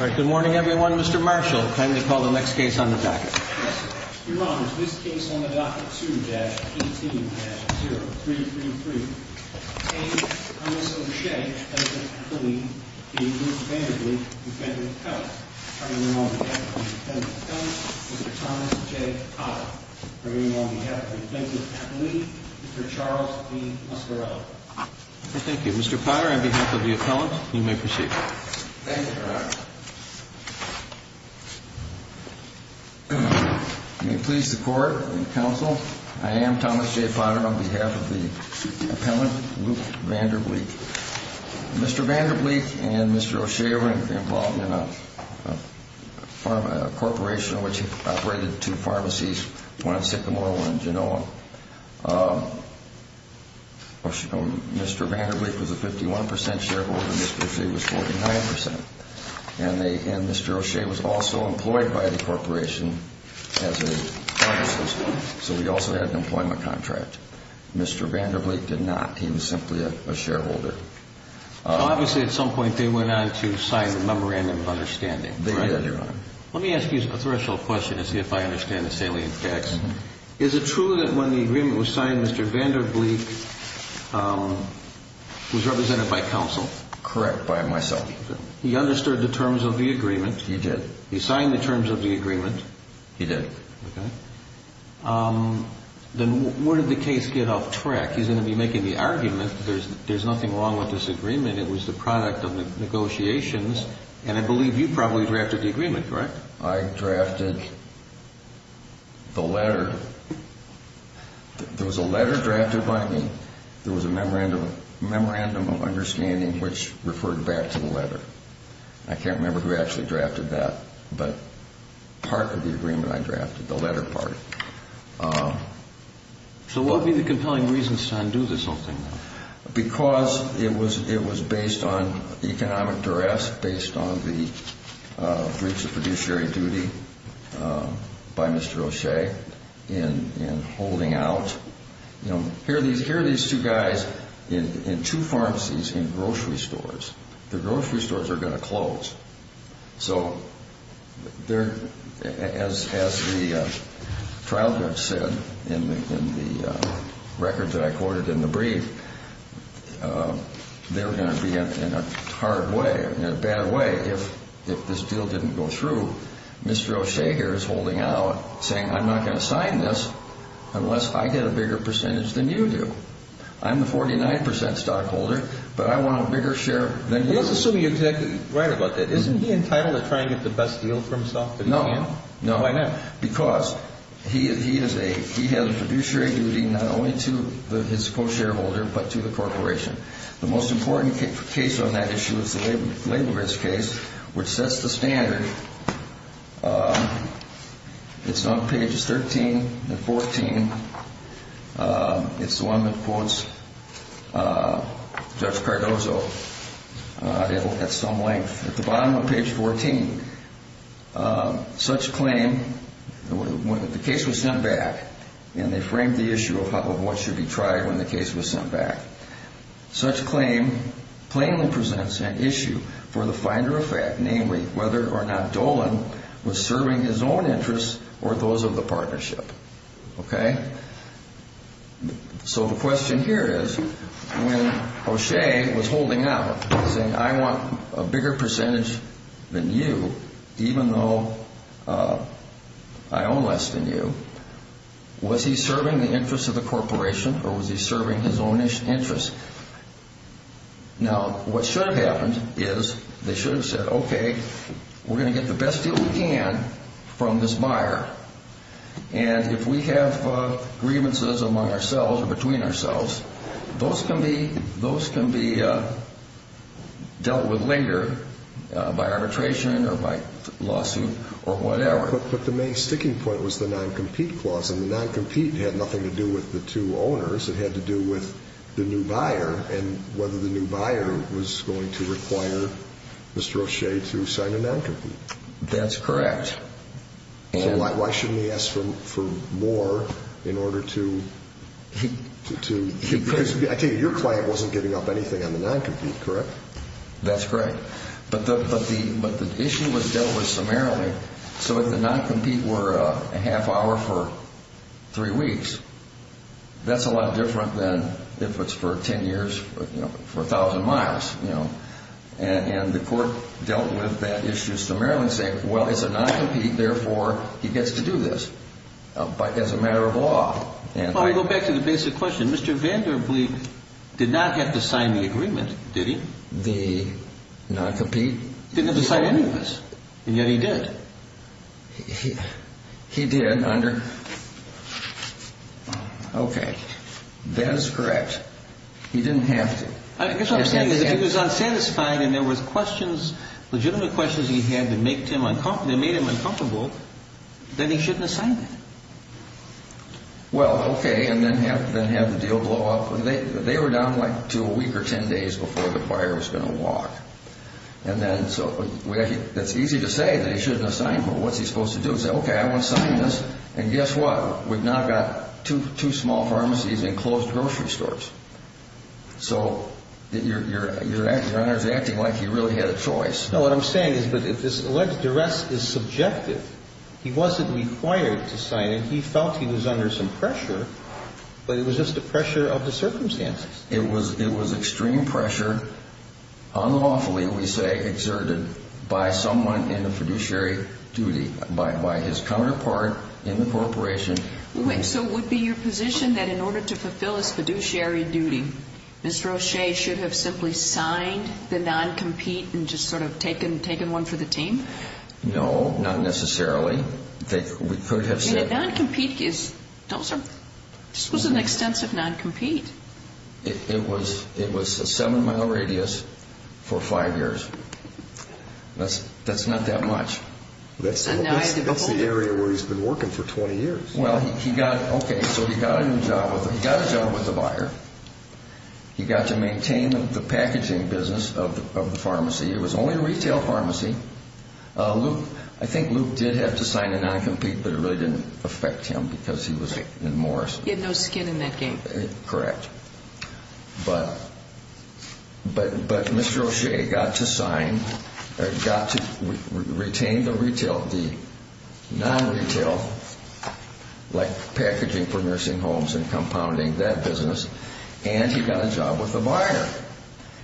Alright, good morning everyone. Mr. Marshall, time to call the next case on the docket. Yes sir. Your Honor, this case on the docket 2-18-0333 A. Thomas O'Shea v. Bleek v. Bleek, defendant appellant. I remain on behalf of the defendant appellant, Mr. Thomas J. Potter. I remain on behalf of the defendant appellee, Mr. Charles B. Muscarello. Thank you. Mr. Potter, on behalf of the appellant, you may proceed. Thank you, Your Honor. May it please the court and counsel, I am Thomas J. Potter, on behalf of the appellant, Luke VanderBleek. Mr. VanderBleek and Mr. O'Shea were involved in a corporation which operated two pharmacies, one in Sycamore and one in Genoa. Mr. VanderBleek was a 51% shareholder and Mr. O'Shea was 49%. And Mr. O'Shea was also employed by the corporation as a pharmacist, so he also had an employment contract. Mr. VanderBleek did not. He was simply a shareholder. Obviously at some point they went on to sign a memorandum of understanding, right? They did, Your Honor. Let me ask you a threshold question to see if I understand this salient text. Is it true that when the agreement was signed, Mr. VanderBleek was represented by counsel? Correct, by myself. He understood the terms of the agreement? He did. He signed the terms of the agreement? He did. Okay. Then where did the case get off track? He's going to be making the argument that there's nothing wrong with this agreement, it was the product of negotiations, and I believe you probably drafted the agreement, correct? I drafted the letter. There was a letter drafted by me. There was a memorandum of understanding which referred back to the letter. I can't remember who actually drafted that, but part of the agreement I drafted, the letter part. So what would be the compelling reasons to undo this whole thing? Because it was based on economic duress, based on the breach of fiduciary duty by Mr. O'Shea in holding out. Here are these two guys in two pharmacies in grocery stores. The grocery stores are going to close. So as the trial judge said in the record that I quoted in the brief, they're going to be in a hard way, in a bad way, if this deal didn't go through. Mr. O'Shea here is holding out, saying I'm not going to sign this unless I get a bigger percentage than you do. I'm the 49% stockholder, but I want a bigger share than you. Let's assume you're exactly right about that. Isn't he entitled to try and get the best deal for himself? No. Why not? Because he has a fiduciary duty not only to his co-shareholder but to the corporation. The most important case on that issue is the labor risk case, which sets the standard. It's on pages 13 and 14. It's the one that quotes Judge Cardozo at some length. At the bottom of page 14, such claim, when the case was sent back, and they framed the issue of what should be tried when the case was sent back, such claim plainly presents an issue for the finder of fact, namely whether or not Dolan was serving his own interests or those of the partnership. Okay? So the question here is when O'Shea was holding out, saying I want a bigger percentage than you, even though I own less than you, was he serving the interests of the corporation or was he serving his own interests? Now, what should have happened is they should have said, okay, we're going to get the best deal we can from this buyer, and if we have grievances among ourselves or between ourselves, those can be dealt with linger by arbitration or by lawsuit or whatever. But the main sticking point was the non-compete clause, and the non-compete had nothing to do with the two owners. It had to do with the new buyer and whether the new buyer was going to require Mr. O'Shea to sign a non-compete. That's correct. So why shouldn't he ask for more in order to – because I take it your client wasn't giving up anything on the non-compete, correct? That's correct. But the issue was dealt with summarily. So if the non-compete were a half hour for three weeks, that's a lot different than if it's for 10 years for 1,000 miles. And the court dealt with that issue summarily and said, well, it's a non-compete, therefore he gets to do this as a matter of law. Let me go back to the basic question. Mr. Vanderbleek did not have to sign the agreement, did he? The non-compete? He didn't have to sign any of this, and yet he did. He did under – okay. That is correct. He didn't have to. I guess what I'm saying is if he was unsatisfied and there was legitimate questions he had that made him uncomfortable, then he shouldn't have signed that. Well, okay, and then have the deal blow up. They were down like to a week or 10 days before the buyer was going to walk. And then so it's easy to say that he shouldn't have signed. Well, what's he supposed to do? Say, okay, I want to sign this, and guess what? We've now got two small pharmacies and closed grocery stores. So you're acting like he really had a choice. No, what I'm saying is that this alleged duress is subjective. He wasn't required to sign it. And he felt he was under some pressure, but it was just the pressure of the circumstances. It was extreme pressure unlawfully, we say, exerted by someone in the fiduciary duty, by his counterpart in the corporation. So it would be your position that in order to fulfill his fiduciary duty, Mr. O'Shea should have simply signed the non-compete and just sort of taken one for the team? No, not necessarily. Non-compete, this was an extensive non-compete. It was a seven-mile radius for five years. That's not that much. That's the area where he's been working for 20 years. Well, okay, so he got a job with the buyer. He got to maintain the packaging business of the pharmacy. It was only a retail pharmacy. I think Luke did have to sign the non-compete, but it really didn't affect him because he was in Morris. He had no skin in that game. Correct. But Mr. O'Shea got to sign, got to retain the retail, the non-retail, like packaging for nursing homes and compounding, that business, and he got a job with the buyer.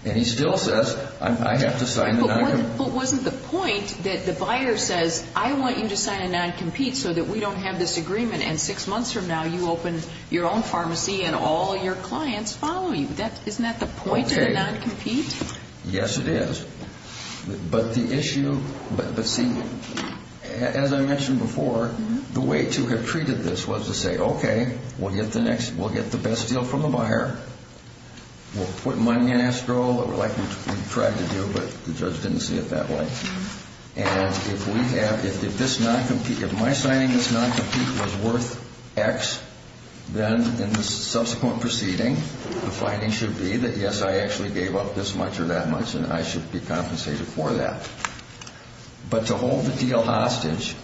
And he still says, I have to sign the non-compete. But wasn't the point that the buyer says, I want you to sign a non-compete so that we don't have this agreement, and six months from now you open your own pharmacy and all your clients follow you? Isn't that the point of the non-compete? Yes, it is. But the issue, but see, as I mentioned before, the way to have treated this was to say, okay, we'll get the best deal from the buyer. We'll put money in escrow like we tried to do, but the judge didn't see it that way. And if my signing this non-compete was worth X, then in the subsequent proceeding the finding should be that, yes, I actually gave up this much or that much, and I should be compensated for that. But to hold the deal hostage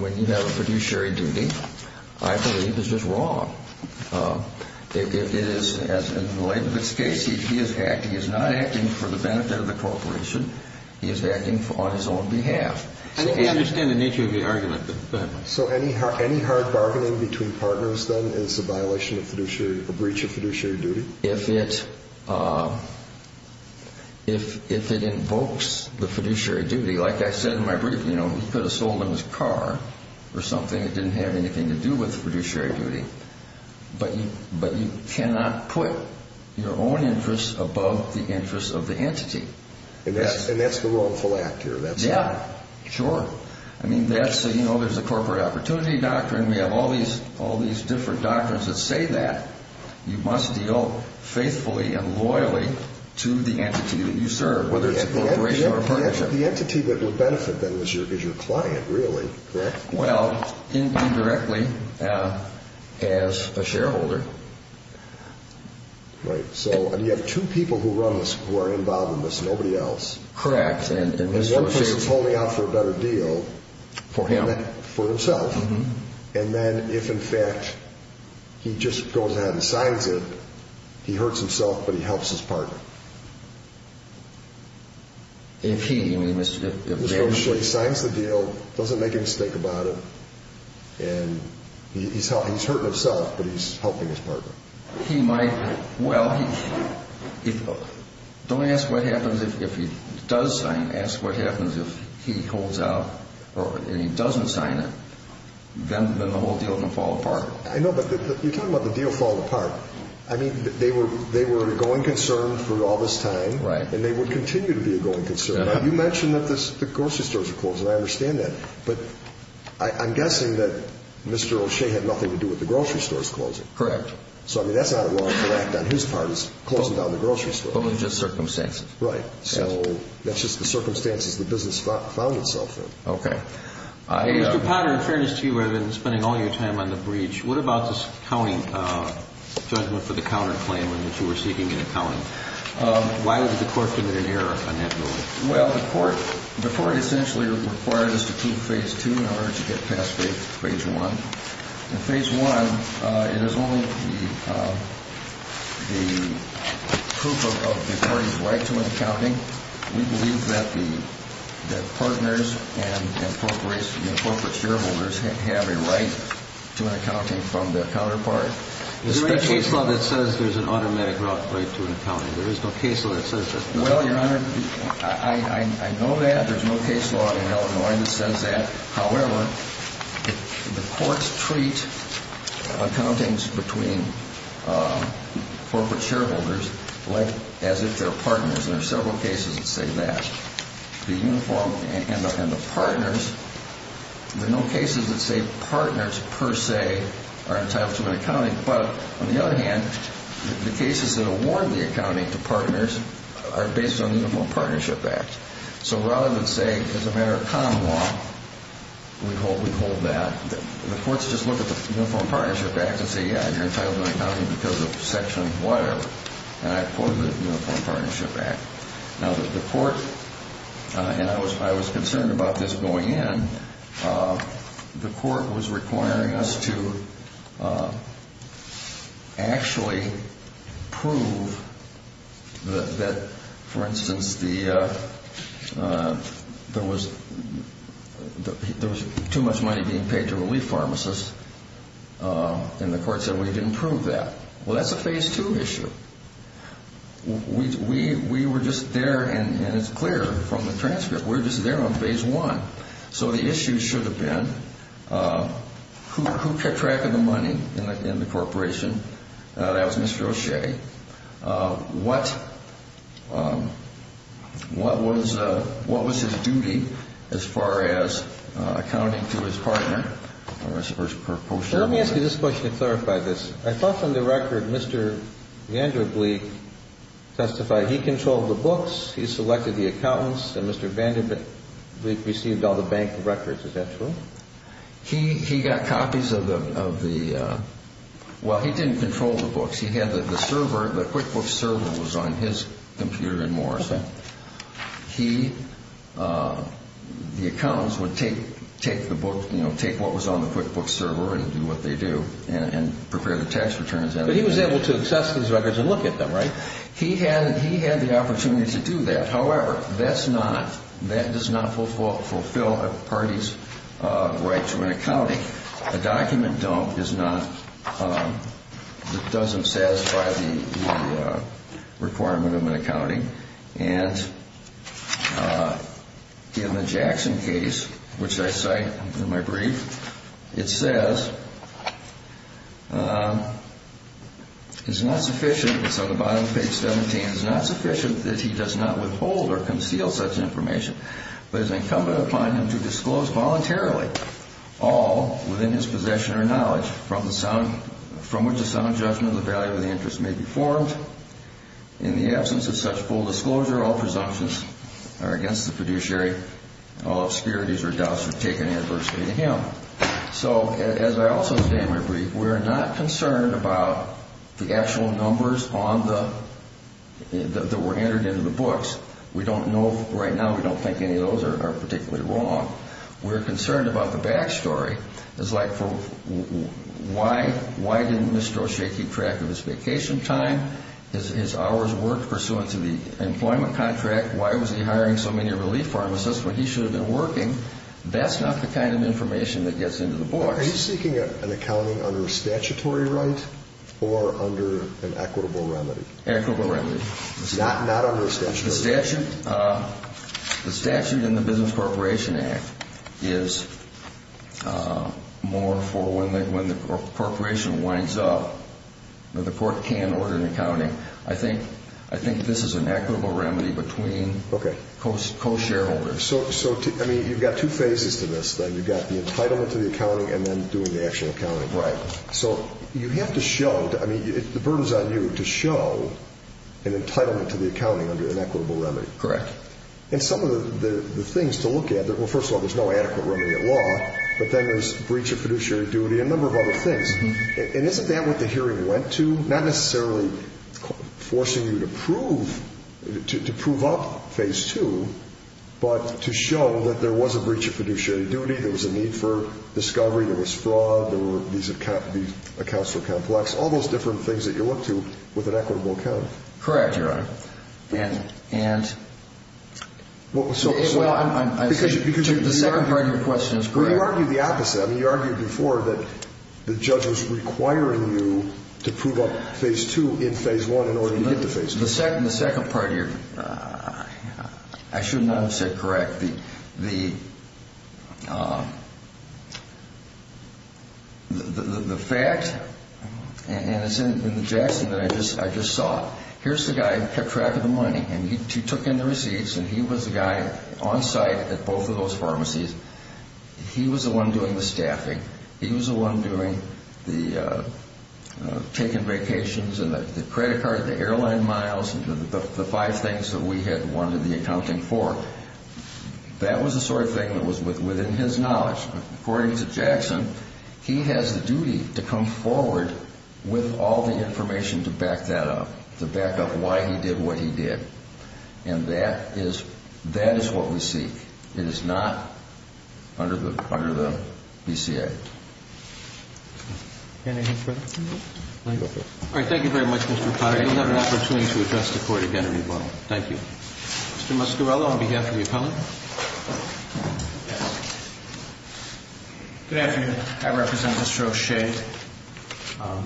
when you have a fiduciary duty I believe is just wrong. It is, in the light of this case, he is not acting for the benefit of the corporation. He is acting on his own behalf. I understand the nature of the argument, but go ahead. So any hard bargaining between partners then is a violation of fiduciary, a breach of fiduciary duty? If it invokes the fiduciary duty, like I said in my brief, he could have sold him his car or something that didn't have anything to do with fiduciary duty. But you cannot put your own interests above the interests of the entity. And that's the wrongful act here. Yeah, sure. I mean, there's a corporate opportunity doctrine. We have all these different doctrines that say that. You must deal faithfully and loyally to the entity that you serve, whether it's a corporation or a partnership. But the entity that would benefit then is your client, really, correct? Well, indirectly, as a shareholder. Right. So you have two people who are involved in this, nobody else. Correct. One person is holding out for a better deal for himself. And then if, in fact, he just goes ahead and signs it, he hurts himself, but he helps his partner. If he, I mean, Mr. O'Shea? If Mr. O'Shea signs the deal, doesn't make a mistake about it, and he's hurting himself, but he's helping his partner. He might. Well, don't ask what happens if he does sign. Ask what happens if he holds out and he doesn't sign it. Then the whole deal can fall apart. I know, but you're talking about the deal falling apart. I mean, they were an ongoing concern for all this time. Right. And they would continue to be an ongoing concern. Now, you mentioned that the grocery stores are closing. I understand that. But I'm guessing that Mr. O'Shea had nothing to do with the grocery stores closing. Correct. So, I mean, that's not at all incorrect on his part, is closing down the grocery stores. But with just circumstances. Right. So that's just the circumstances the business found itself in. Okay. Mr. Potter, in fairness to you, I've been spending all your time on the breach. What about this accounting judgment for the counterclaim in which you were seeking an accounting? Why did the court commit an error on that building? Well, the court essentially required us to keep Phase 2 in order to get past Phase 1. In Phase 1, it is only the proof of the parties' right to an accounting. We believe that the partners and the corporate shareholders have a right to an accounting from their counterpart. There's no case law that says there's an automatic right to an accounting. There is no case law that says that. Well, Your Honor, I know that. There's no case law in Illinois that says that. However, the courts treat accountings between corporate shareholders as if they're partners. And there are several cases that say that. The uniform and the partners, there are no cases that say partners per se are entitled to an accounting. But on the other hand, the cases that award the accounting to partners are based on the Uniform Partnership Act. So rather than say, as a matter of common law, we hold that, the courts just look at the Uniform Partnership Act and say, yeah, you're entitled to an accounting because of Section whatever. And I quote the Uniform Partnership Act. Now, the court, and I was concerned about this going in, the court was requiring us to actually prove that, for instance, there was too much money being paid to relief pharmacists, and the court said we didn't prove that. Well, that's a Phase II issue. We were just there, and it's clear from the transcript, we were just there on Phase I. So the issue should have been who kept track of the money in the corporation. That was Mr. O'Shea. What was his duty as far as accounting to his partner? Let me ask you this question to clarify this. I thought from the record Mr. Vanderbilt testified he controlled the books, he selected the accountants, and Mr. Vanderbilt received all the bank records. Is that true? He got copies of the – well, he didn't control the books. He had the server, the QuickBooks server was on his computer and more. Okay. He – the accountants would take the book, you know, take what was on the QuickBooks server and do what they do and prepare the tax returns. But he was able to access those records and look at them, right? He had the opportunity to do that. However, that's not – that does not fulfill a party's right to an accounting. A document dump is not – doesn't satisfy the requirement of an accounting. And in the Jackson case, which I cite in my brief, it says it's not sufficient – it's on the bottom of page 17 – it's not sufficient that he does not withhold or conceal such information, but it is incumbent upon him to disclose voluntarily all within his possession or knowledge from which a sound judgment of the value of the interest may be formed. In the absence of such full disclosure, all presumptions are against the fiduciary. All obscurities or doubts are taken adversely to him. So as I also say in my brief, we are not concerned about the actual numbers on the – that were entered into the books. We don't know – right now, we don't think any of those are particularly wrong. We're concerned about the back story. It's like for – why didn't Mr. O'Shea keep track of his vacation time, his hours worked pursuant to the employment contract? Why was he hiring so many relief pharmacists when he should have been working? That's not the kind of information that gets into the books. Are you seeking an accounting under a statutory right or under an equitable remedy? Equitable remedy. Not under a statutory right. The statute in the Business Corporation Act is more for when the corporation winds up. The court can order an accounting. I think this is an equitable remedy between co-shareholders. So, I mean, you've got two phases to this thing. You've got the entitlement to the accounting and then doing the actual accounting. Right. So, you have to show – I mean, the burden is on you to show an entitlement to the accounting under an equitable remedy. Correct. And some of the things to look at – well, first of all, there's no adequate remedy at law, but then there's breach of fiduciary duty and a number of other things. And isn't that what the hearing went to? Not necessarily forcing you to prove – to prove up phase two, but to show that there was a breach of fiduciary duty, there was a need for discovery, there was fraud, there were – these accounts were complex, all those different things that you look to with an equitable account. Correct, Your Honor. And – Well, so – Well, I'm – Because you – The second part of your question is correct. Well, you argued the opposite. I mean, you argued before that the judge was requiring you to prove up phase two in phase one in order to get to phase two. The second part of your – I should not have said correct. The fact – and it's in the Jackson that I just saw. Here's the guy who kept track of the money, and he took in the receipts, and he was the guy on site at both of those pharmacies. He was the one doing the staffing. He was the one doing the – taking vacations and the credit card, the airline miles, the five things that we had wanted the accounting for. That was the sort of thing that was within his knowledge. According to Jackson, he has the duty to come forward with all the information to back that up, to back up why he did what he did. And that is – that is what we seek. It is not under the BCA. Anything further? No. All right. Thank you very much, Mr. Pottinger. You'll have an opportunity to address the Court again in rebuttal. Thank you. Mr. Muscarello on behalf of the appellant. I represent Mr. O'Shea. I'm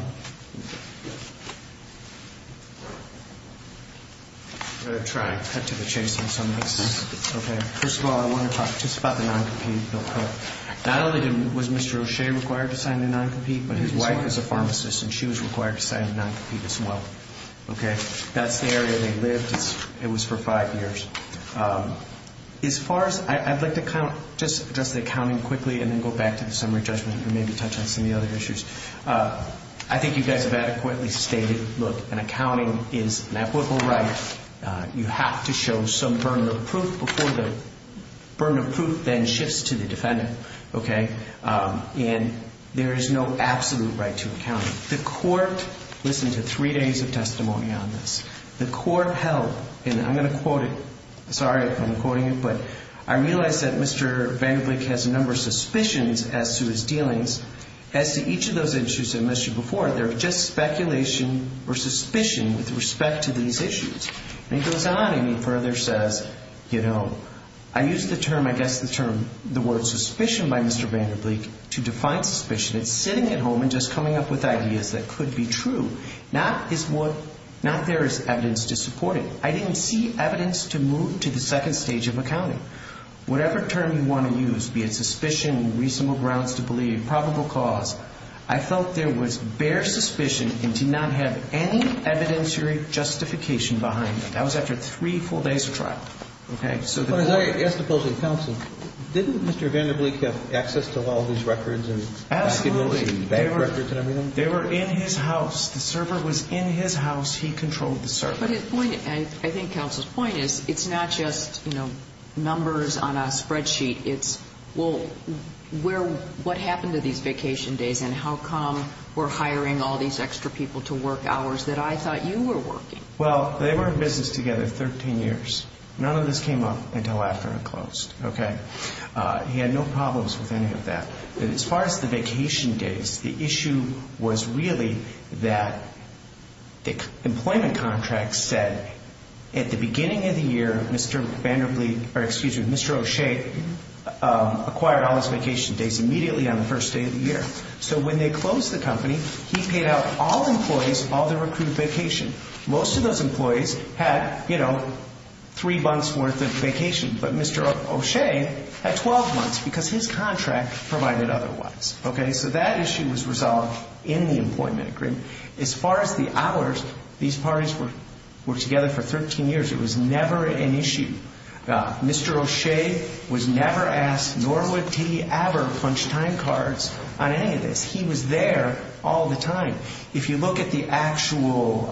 going to try and cut to the chase on some of this. Okay. First of all, I want to talk just about the non-compete bill. Not only was Mr. O'Shea required to sign the non-compete, but his wife is a pharmacist and she was required to sign the non-compete as well. Okay. That's the area they lived. It was for five years. As far as – I'd like to kind of just address the accounting quickly and then go back to the summary judgment and maybe touch on some of the other issues. I think you guys have adequately stated, look, an accounting is an ethical right. You have to show some burden of proof before the burden of proof then shifts to the defendant. Okay. And there is no absolute right to accounting. The Court listened to three days of testimony on this. The Court held, and I'm going to quote it. Sorry if I'm quoting it, but, I realize that Mr. Vanderbilt has a number of suspicions as to his dealings. As to each of those issues I mentioned before, they're just speculation or suspicion with respect to these issues. And he goes on and he further says, you know, I used the term, I guess the term, the word suspicion by Mr. Vanderbilt to define suspicion. It's sitting at home and just coming up with ideas that could be true. Not there is evidence to support it. I didn't see evidence to move to the second stage of accounting. Whatever term you want to use, be it suspicion, reasonable grounds to believe, probable cause, I felt there was bare suspicion and did not have any evidentiary justification behind it. That was after three full days of trial. Okay. As opposed to counsel, didn't Mr. Vanderbilt have access to all of these records? Absolutely. They were in his house. The server was in his house. He controlled the server. I think counsel's point is it's not just, you know, numbers on a spreadsheet. It's, well, what happened to these vacation days and how come we're hiring all these extra people to work hours that I thought you were working? Well, they were in business together 13 years. None of this came up until after it closed. Okay. He had no problems with any of that. As far as the vacation days, the issue was really that the employment contract said at the beginning of the year, Mr. Vanderbilt, or excuse me, Mr. O'Shea acquired all his vacation days immediately on the first day of the year. So when they closed the company, he paid out all employees all their accrued vacation. Most of those employees had, you know, three months' worth of vacation. But Mr. O'Shea had 12 months because his contract provided otherwise. Okay. So that issue was resolved in the employment agreement. As far as the hours, these parties were together for 13 years. It was never an issue. Mr. O'Shea was never asked nor would he ever punch time cards on any of this. He was there all the time. If you look at the actual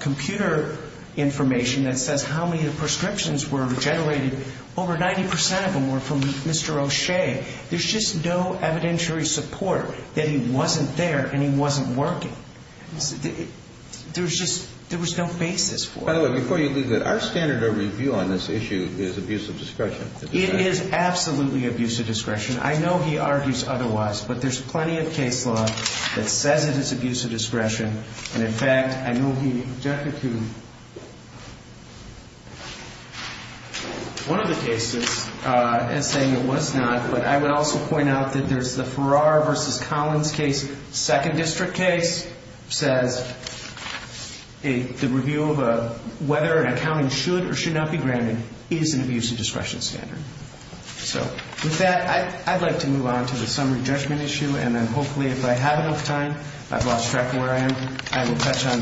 computer information that says how many of the prescriptions were generated, over 90% of them were from Mr. O'Shea. There's just no evidentiary support that he wasn't there and he wasn't working. There was just no basis for it. By the way, before you leave it, our standard of review on this issue is abuse of discretion. It is absolutely abuse of discretion. I know he argues otherwise, but there's plenty of case law that says it is abuse of discretion. And, in fact, I know he objected to one of the cases in saying it was not. But I would also point out that there's the Farrar v. Collins case, second district case, says the review of whether an accounting should or should not be granted is an abuse of discretion standard. So with that, I'd like to move on to the summary judgment issue, and then hopefully if I have enough time, I've lost track of where I am, I will touch on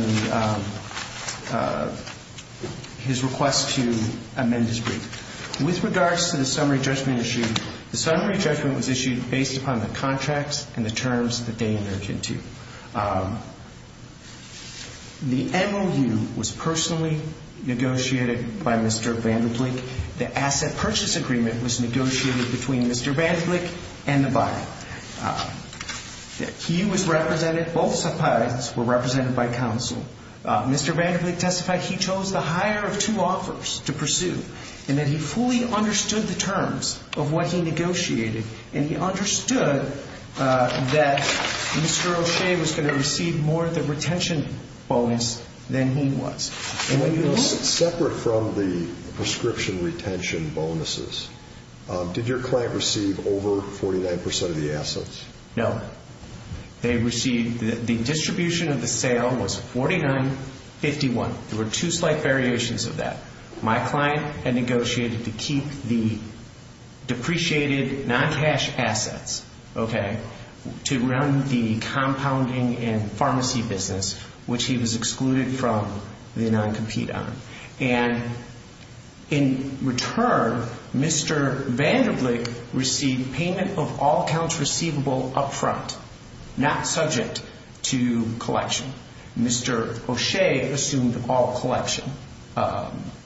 his request to amend his brief. With regards to the summary judgment issue, the summary judgment was issued based upon the contracts and the terms that they emerged into. The MOU was personally negotiated by Mr. Vanderbilt. The asset purchase agreement was negotiated between Mr. Vanderbilt and the buyer. He was represented, both subpoenas were represented by counsel. Mr. Vanderbilt testified he chose the higher of two offers to pursue and that he fully understood the terms of what he negotiated and he understood that Mr. O'Shea was going to receive more of the retention bonus than he was. Separate from the prescription retention bonuses, did your client receive over 49% of the assets? No. The distribution of the sale was $49.51. There were two slight variations of that. My client had negotiated to keep the depreciated non-cash assets to run the compounding and pharmacy business, which he was excluded from the non-compete on. In return, Mr. Vanderbilt received payment of all accounts receivable up front, not subject to collection. Mr. O'Shea assumed all collection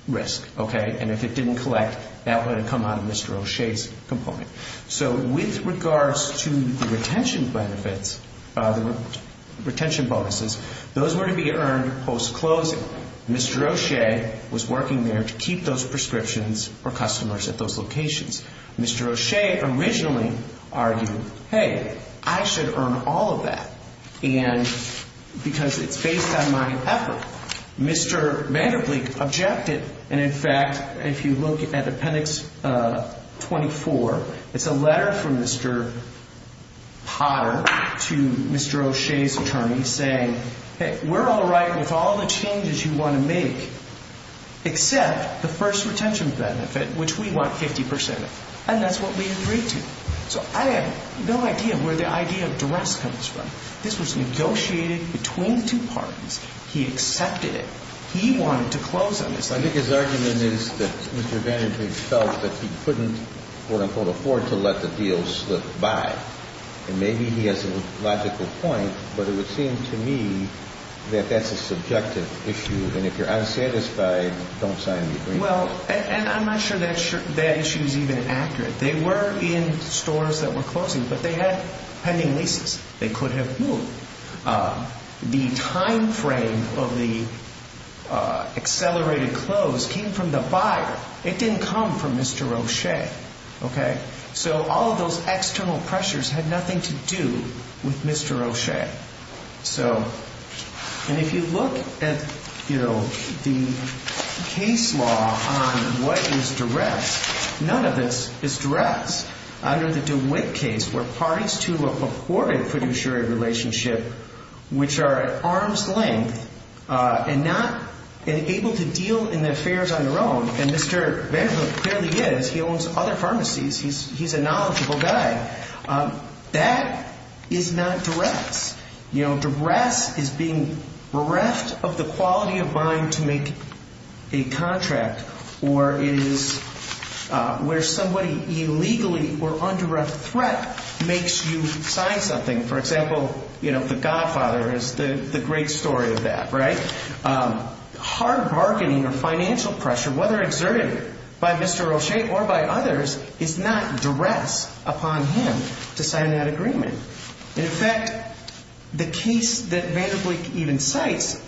risk. If it didn't collect, that would have come out of Mr. O'Shea's component. With regards to the retention bonuses, those were to be earned post-closing. Mr. O'Shea was working there to keep those prescriptions for customers at those locations. Mr. O'Shea originally argued, hey, I should earn all of that because it's based on my effort. Mr. Vanderbilt objected, and in fact, if you look at appendix 24, it's a letter from Mr. Potter to Mr. O'Shea's attorney saying, hey, we're all right with all the changes you want to make except the first retention benefit, which we want 50 percent of, and that's what we agreed to. So I have no idea where the idea of duress comes from. This was negotiated between two parties. He accepted it. He wanted to close on this. I think his argument is that Mr. Vanderbilt felt that he couldn't, quote, unquote, afford to let the deal slip by, and maybe he has a logical point, but it would seem to me that that's a subjective issue, and if you're unsatisfied, don't sign the agreement. Well, and I'm not sure that issue is even accurate. They were in stores that were closing, but they had pending leases. They could have moved. The time frame of the accelerated close came from the buyer. It didn't come from Mr. O'Shea, okay? So all of those external pressures had nothing to do with Mr. O'Shea. So, and if you look at, you know, the case law on what is duress, none of this is duress. Under the DeWitt case, where parties to an afforded fiduciary relationship, which are at arm's length and not able to deal in affairs on their own, and Mr. Vanderbilt clearly is. He owns other pharmacies. He's a knowledgeable guy. That is not duress. You know, duress is being bereft of the quality of mind to make a contract, or it is where somebody illegally or under a threat makes you sign something. For example, you know, the godfather is the great story of that, right? Hard bargaining or financial pressure, whether exerted by Mr. O'Shea or by others, is not duress upon him to sign that agreement. In fact, the case that Vanderbilt even cites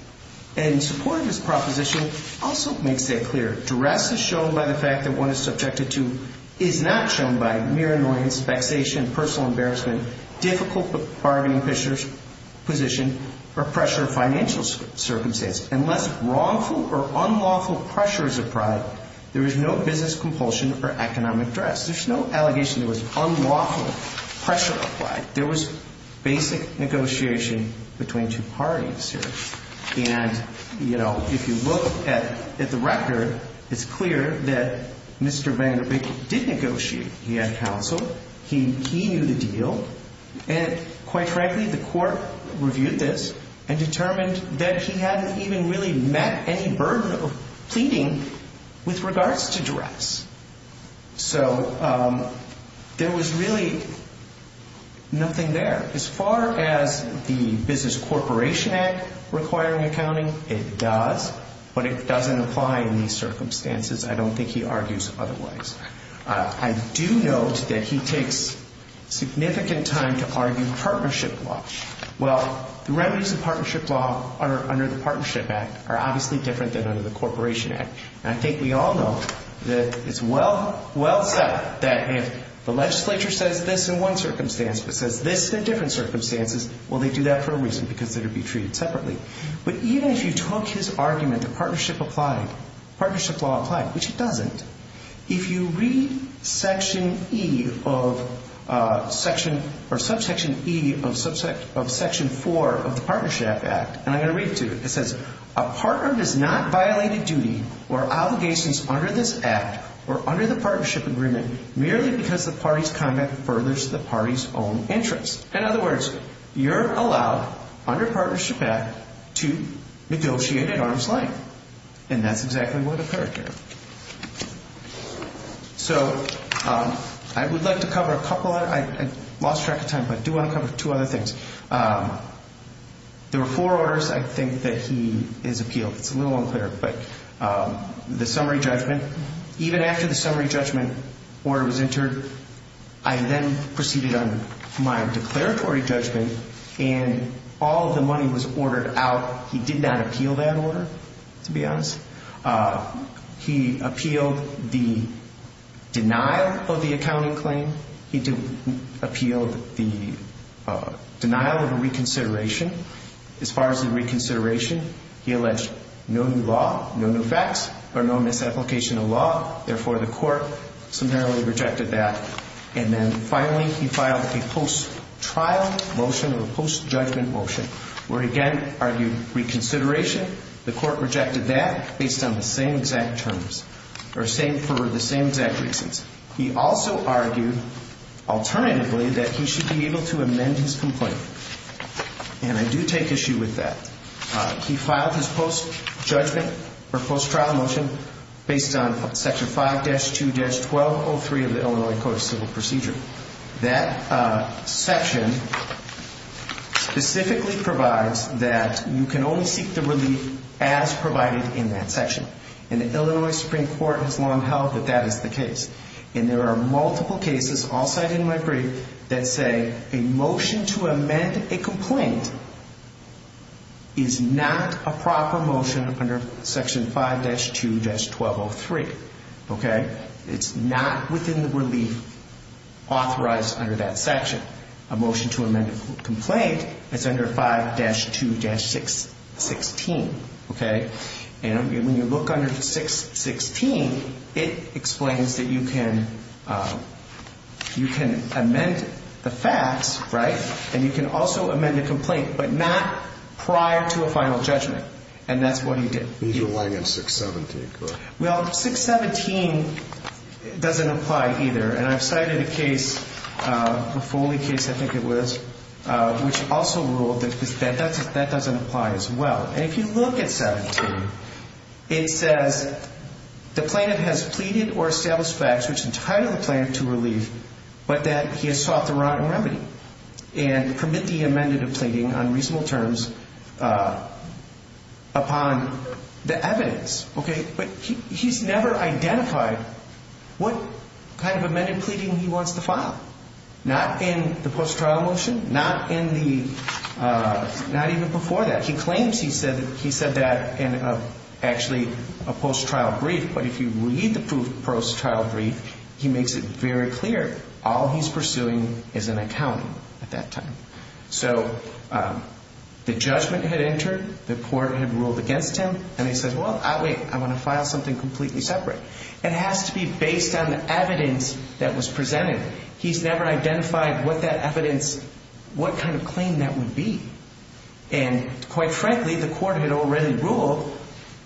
in support of his proposition also makes that clear. Duress is shown by the fact that one is subjected to, is not shown by mere annoyance, vexation, personal embarrassment, difficult bargaining position, or pressure of financial circumstances. Unless wrongful or unlawful pressure is applied, there is no business compulsion or economic duress. There's no allegation there was unlawful pressure applied. There was basic negotiation between two parties here. And, you know, if you look at the record, it's clear that Mr. Vanderbilt did negotiate. He had counsel. He knew the deal. And quite frankly, the court reviewed this and determined that he hadn't even really met any burden of pleading with regards to duress. So there was really nothing there. As far as the Business Corporation Act requiring accounting, it does, but it doesn't apply in these circumstances. I don't think he argues otherwise. I do note that he takes significant time to argue partnership law. Well, the remedies of partnership law under the Partnership Act are obviously different than under the Corporation Act. And I think we all know that it's well said that if the legislature says this in one circumstance but says this in different circumstances, well, they do that for a reason because they're to be treated separately. But even if you took his argument that partnership applied, partnership law applied, which it doesn't, if you read section E of section or subsection E of section 4 of the Partnership Act, and I'm going to read it to you, it says, a partner does not violate a duty or obligations under this act or under the partnership agreement merely because the party's conduct furthers the party's own interests. In other words, you're allowed under Partnership Act to negotiate at arm's length. And that's exactly what occurred here. So I would like to cover a couple of other things. I lost track of time, but I do want to cover two other things. There were four orders, I think, that he has appealed. It's a little unclear, but the summary judgment, even after the summary judgment order was entered, I then proceeded on my declaratory judgment, and all of the money was ordered out. He did not appeal that order, to be honest. He appealed the denial of the accounting claim. He appealed the denial of a reconsideration. As far as the reconsideration, he alleged no new law, no new facts, or no misapplication of law. Therefore, the court summarily rejected that. And then finally, he filed a post-trial motion or a post-judgment motion where, again, argued reconsideration. The court rejected that based on the same exact terms or for the same exact reasons. He also argued, alternatively, that he should be able to amend his complaint. And I do take issue with that. He filed his post-judgment or post-trial motion based on Section 5-2-1203 of the Illinois Code of Civil Procedure. That section specifically provides that you can only seek the relief as provided in that section. And the Illinois Supreme Court has long held that that is the case. And there are multiple cases, all cited in my brief, that say a motion to amend a complaint is not a proper motion under Section 5-2-1203. It's not within the relief authorized under that section. A motion to amend a complaint is under 5-2-616. Okay? And when you look under 6-16, it explains that you can amend the facts, right, and you can also amend a complaint, but not prior to a final judgment. And that's what he did. He's relying on 6-17, correct? Well, 6-17 doesn't apply either. And I've cited a case, a Foley case, I think it was, which also ruled that that doesn't apply as well. And if you look at 7-17, it says the plaintiff has pleaded or established facts which entitle the plaintiff to relief, but that he has sought the wrong remedy and permit the amended of pleading on reasonable terms upon the evidence. Okay? But he's never identified what kind of amended pleading he wants to file. Not in the post-trial motion, not even before that. He claims he said that in actually a post-trial brief, but if you read the post-trial brief, he makes it very clear. All he's pursuing is an accounting at that time. So the judgment had entered, the court had ruled against him, and he says, well, wait, I want to file something completely separate. It has to be based on the evidence that was presented. He's never identified what that evidence, what kind of claim that would be. And quite frankly, the court had already ruled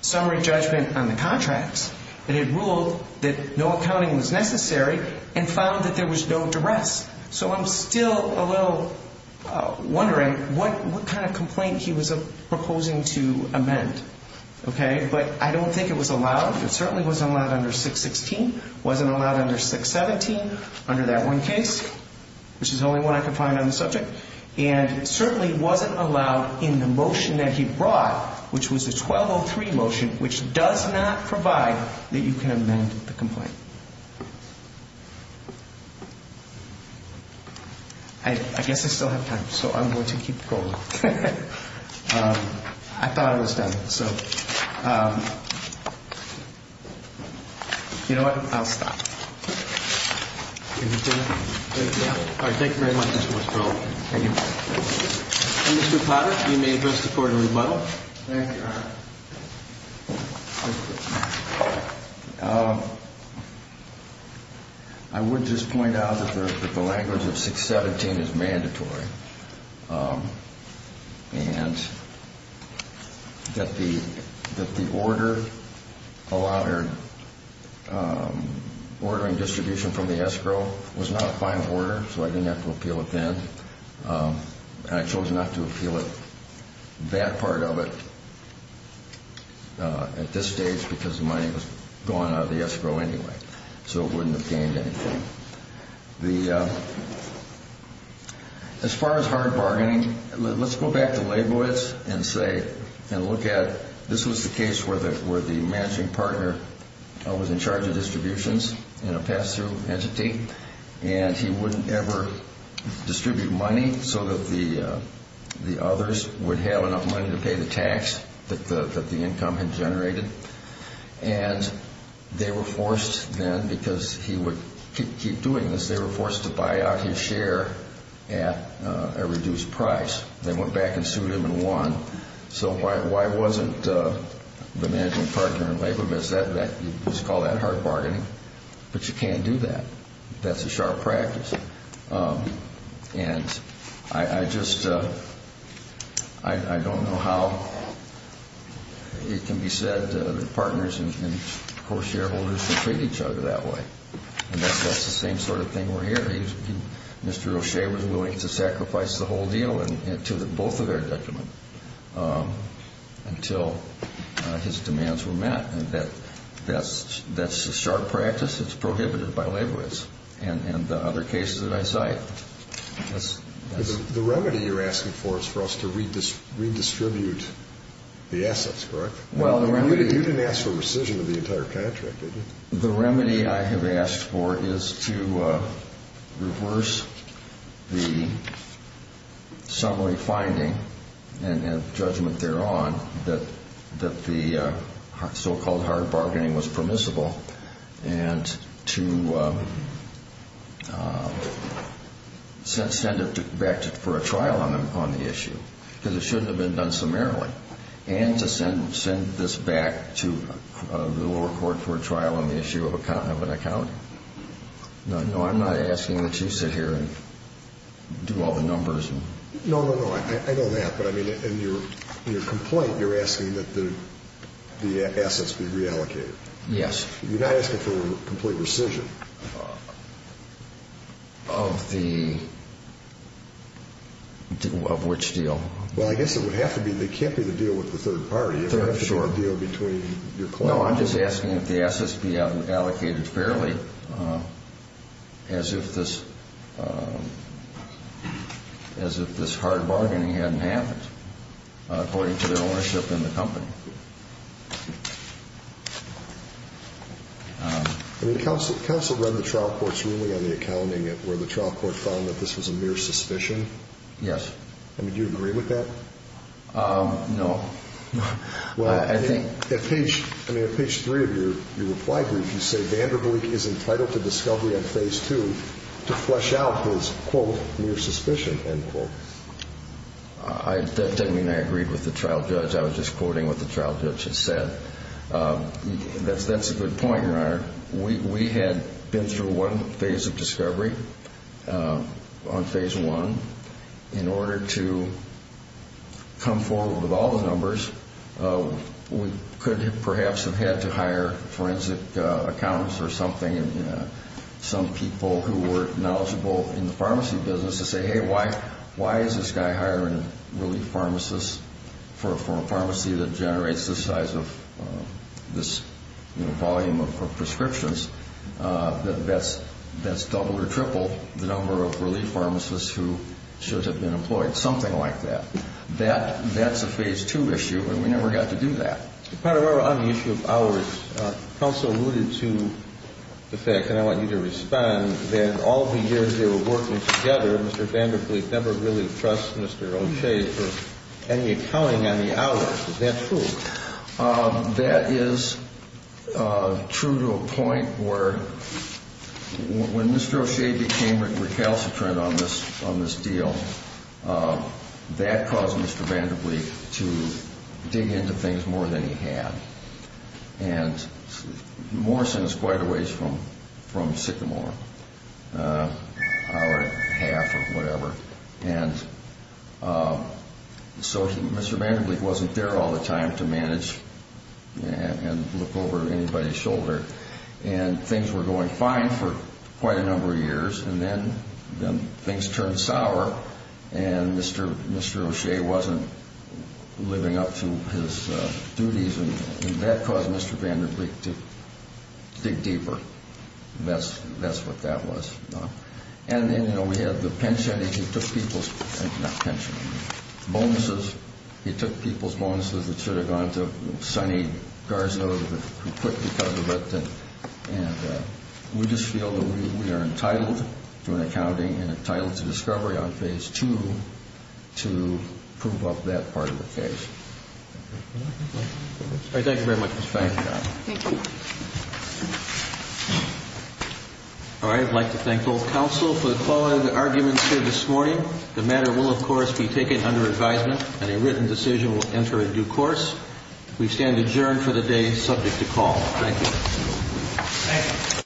summary judgment on the contracts. It had ruled that no accounting was necessary and found that there was no duress. So I'm still a little wondering what kind of complaint he was proposing to amend. Okay? But I don't think it was allowed. It certainly wasn't allowed under 6-16, wasn't allowed under 6-17, under that one case, which is the only one I could find on the subject. And it certainly wasn't allowed in the motion that he brought, which was the 1203 motion, which does not provide that you can amend the complaint. I guess I still have time, so I'm going to keep rolling. I thought I was done, so. You know what? I'll stop. Thank you. All right. Thank you very much, Mr. Westphal. Thank you. Mr. Potter, you may address the Court in rebuttal. Thank you, Your Honor. I would just point out that the language of 6-17 is mandatory. And that the ordering distribution from the escrow was not a final order, so I didn't have to appeal it then. And I chose not to appeal that part of it at this stage because the money was going out of the escrow anyway, so it wouldn't have gained anything. As far as hard bargaining, let's go back to Leibowitz and look at this was the case where the managing partner was in charge of distributions in a pass-through entity. And he wouldn't ever distribute money so that the others would have enough money to pay the tax that the income had generated. And they were forced then, because he would keep doing this, they were forced to buy out his share at a reduced price. They went back and sued him and won. So why wasn't the managing partner in Leibowitz, let's call that hard bargaining? But you can't do that. That's a sharp practice. And I just don't know how it can be said that partners and co-shareholders can treat each other that way. And that's the same sort of thing we're hearing. Mr. O'Shea was willing to sacrifice the whole deal to both of their detriment until his demands were met. And that's a sharp practice. It's prohibited by Leibowitz. And the other cases that I cite. The remedy you're asking for is for us to redistribute the assets, correct? You didn't ask for rescission of the entire contract, did you? The remedy I have asked for is to reverse the summary finding and judgment thereon that the so-called hard bargaining was permissible. And to send it back for a trial on the issue, because it shouldn't have been done summarily. And to send this back to the lower court for a trial on the issue of an accounting. No, I'm not asking that you sit here and do all the numbers. No, no, no. I know that. But, I mean, in your complaint, you're asking that the assets be reallocated. Yes. You're not asking for complete rescission. Of the, of which deal? Well, I guess it would have to be, it can't be the deal with the third party. It would have to be the deal between your client. No, I'm just asking if the assets be allocated fairly as if this hard bargaining hadn't happened. According to their ownership in the company. I mean, counsel read the trial court's ruling on the accounting where the trial court found that this was a mere suspicion? Yes. I mean, do you agree with that? No. Well, I think, at page, I mean, at page three of your reply brief, you say Vanderbilt is entitled to discovery on phase two to flesh out his, quote, mere suspicion, end quote. I, that doesn't mean I agreed with the trial judge. I was just quoting what the trial judge had said. That's a good point, Your Honor. We had been through one phase of discovery on phase one. In order to come forward with all the numbers, we could perhaps have had to hire forensic accountants or something, some people who were knowledgeable in the pharmacy business to say, hey, why is this guy hiring a relief pharmacist for a pharmacy that generates this size of, this volume of prescriptions, that that's double or triple the number of relief pharmacists who should have been employed, something like that. That's a phase two issue, and we never got to do that. But on the issue of hours, counsel alluded to the fact, and I want you to respond, that all the years they were working together, Mr. Vanderbilt never really trusted Mr. O'Shea for any accounting on the hours. Is that true? That is true to a point where when Mr. O'Shea became recalcitrant on this deal, that caused Mr. Vanderbilt to dig into things more than he had. And Morrison is quite a ways from Sycamore, an hour and a half or whatever. And so Mr. Vanderbilt wasn't there all the time to manage and look over anybody's shoulder. And things were going fine for quite a number of years, and then things turned sour, and Mr. O'Shea wasn't living up to his duties, and that caused Mr. Vanderbilt to dig deeper. That's what that was. And then, you know, we had the pension. He took people's bonuses that should have gone to Sonny Garza, who quit because of it. And we just feel that we are entitled to an accounting and entitled to discovery on phase two to prove up that part of the case. Thank you very much. Thank you. Thank you. All right. I'd like to thank both counsel for the quality of the arguments here this morning. The matter will, of course, be taken under advisement, and a written decision will enter a due course. We stand adjourned for the day subject to call. Thank you. Thank you.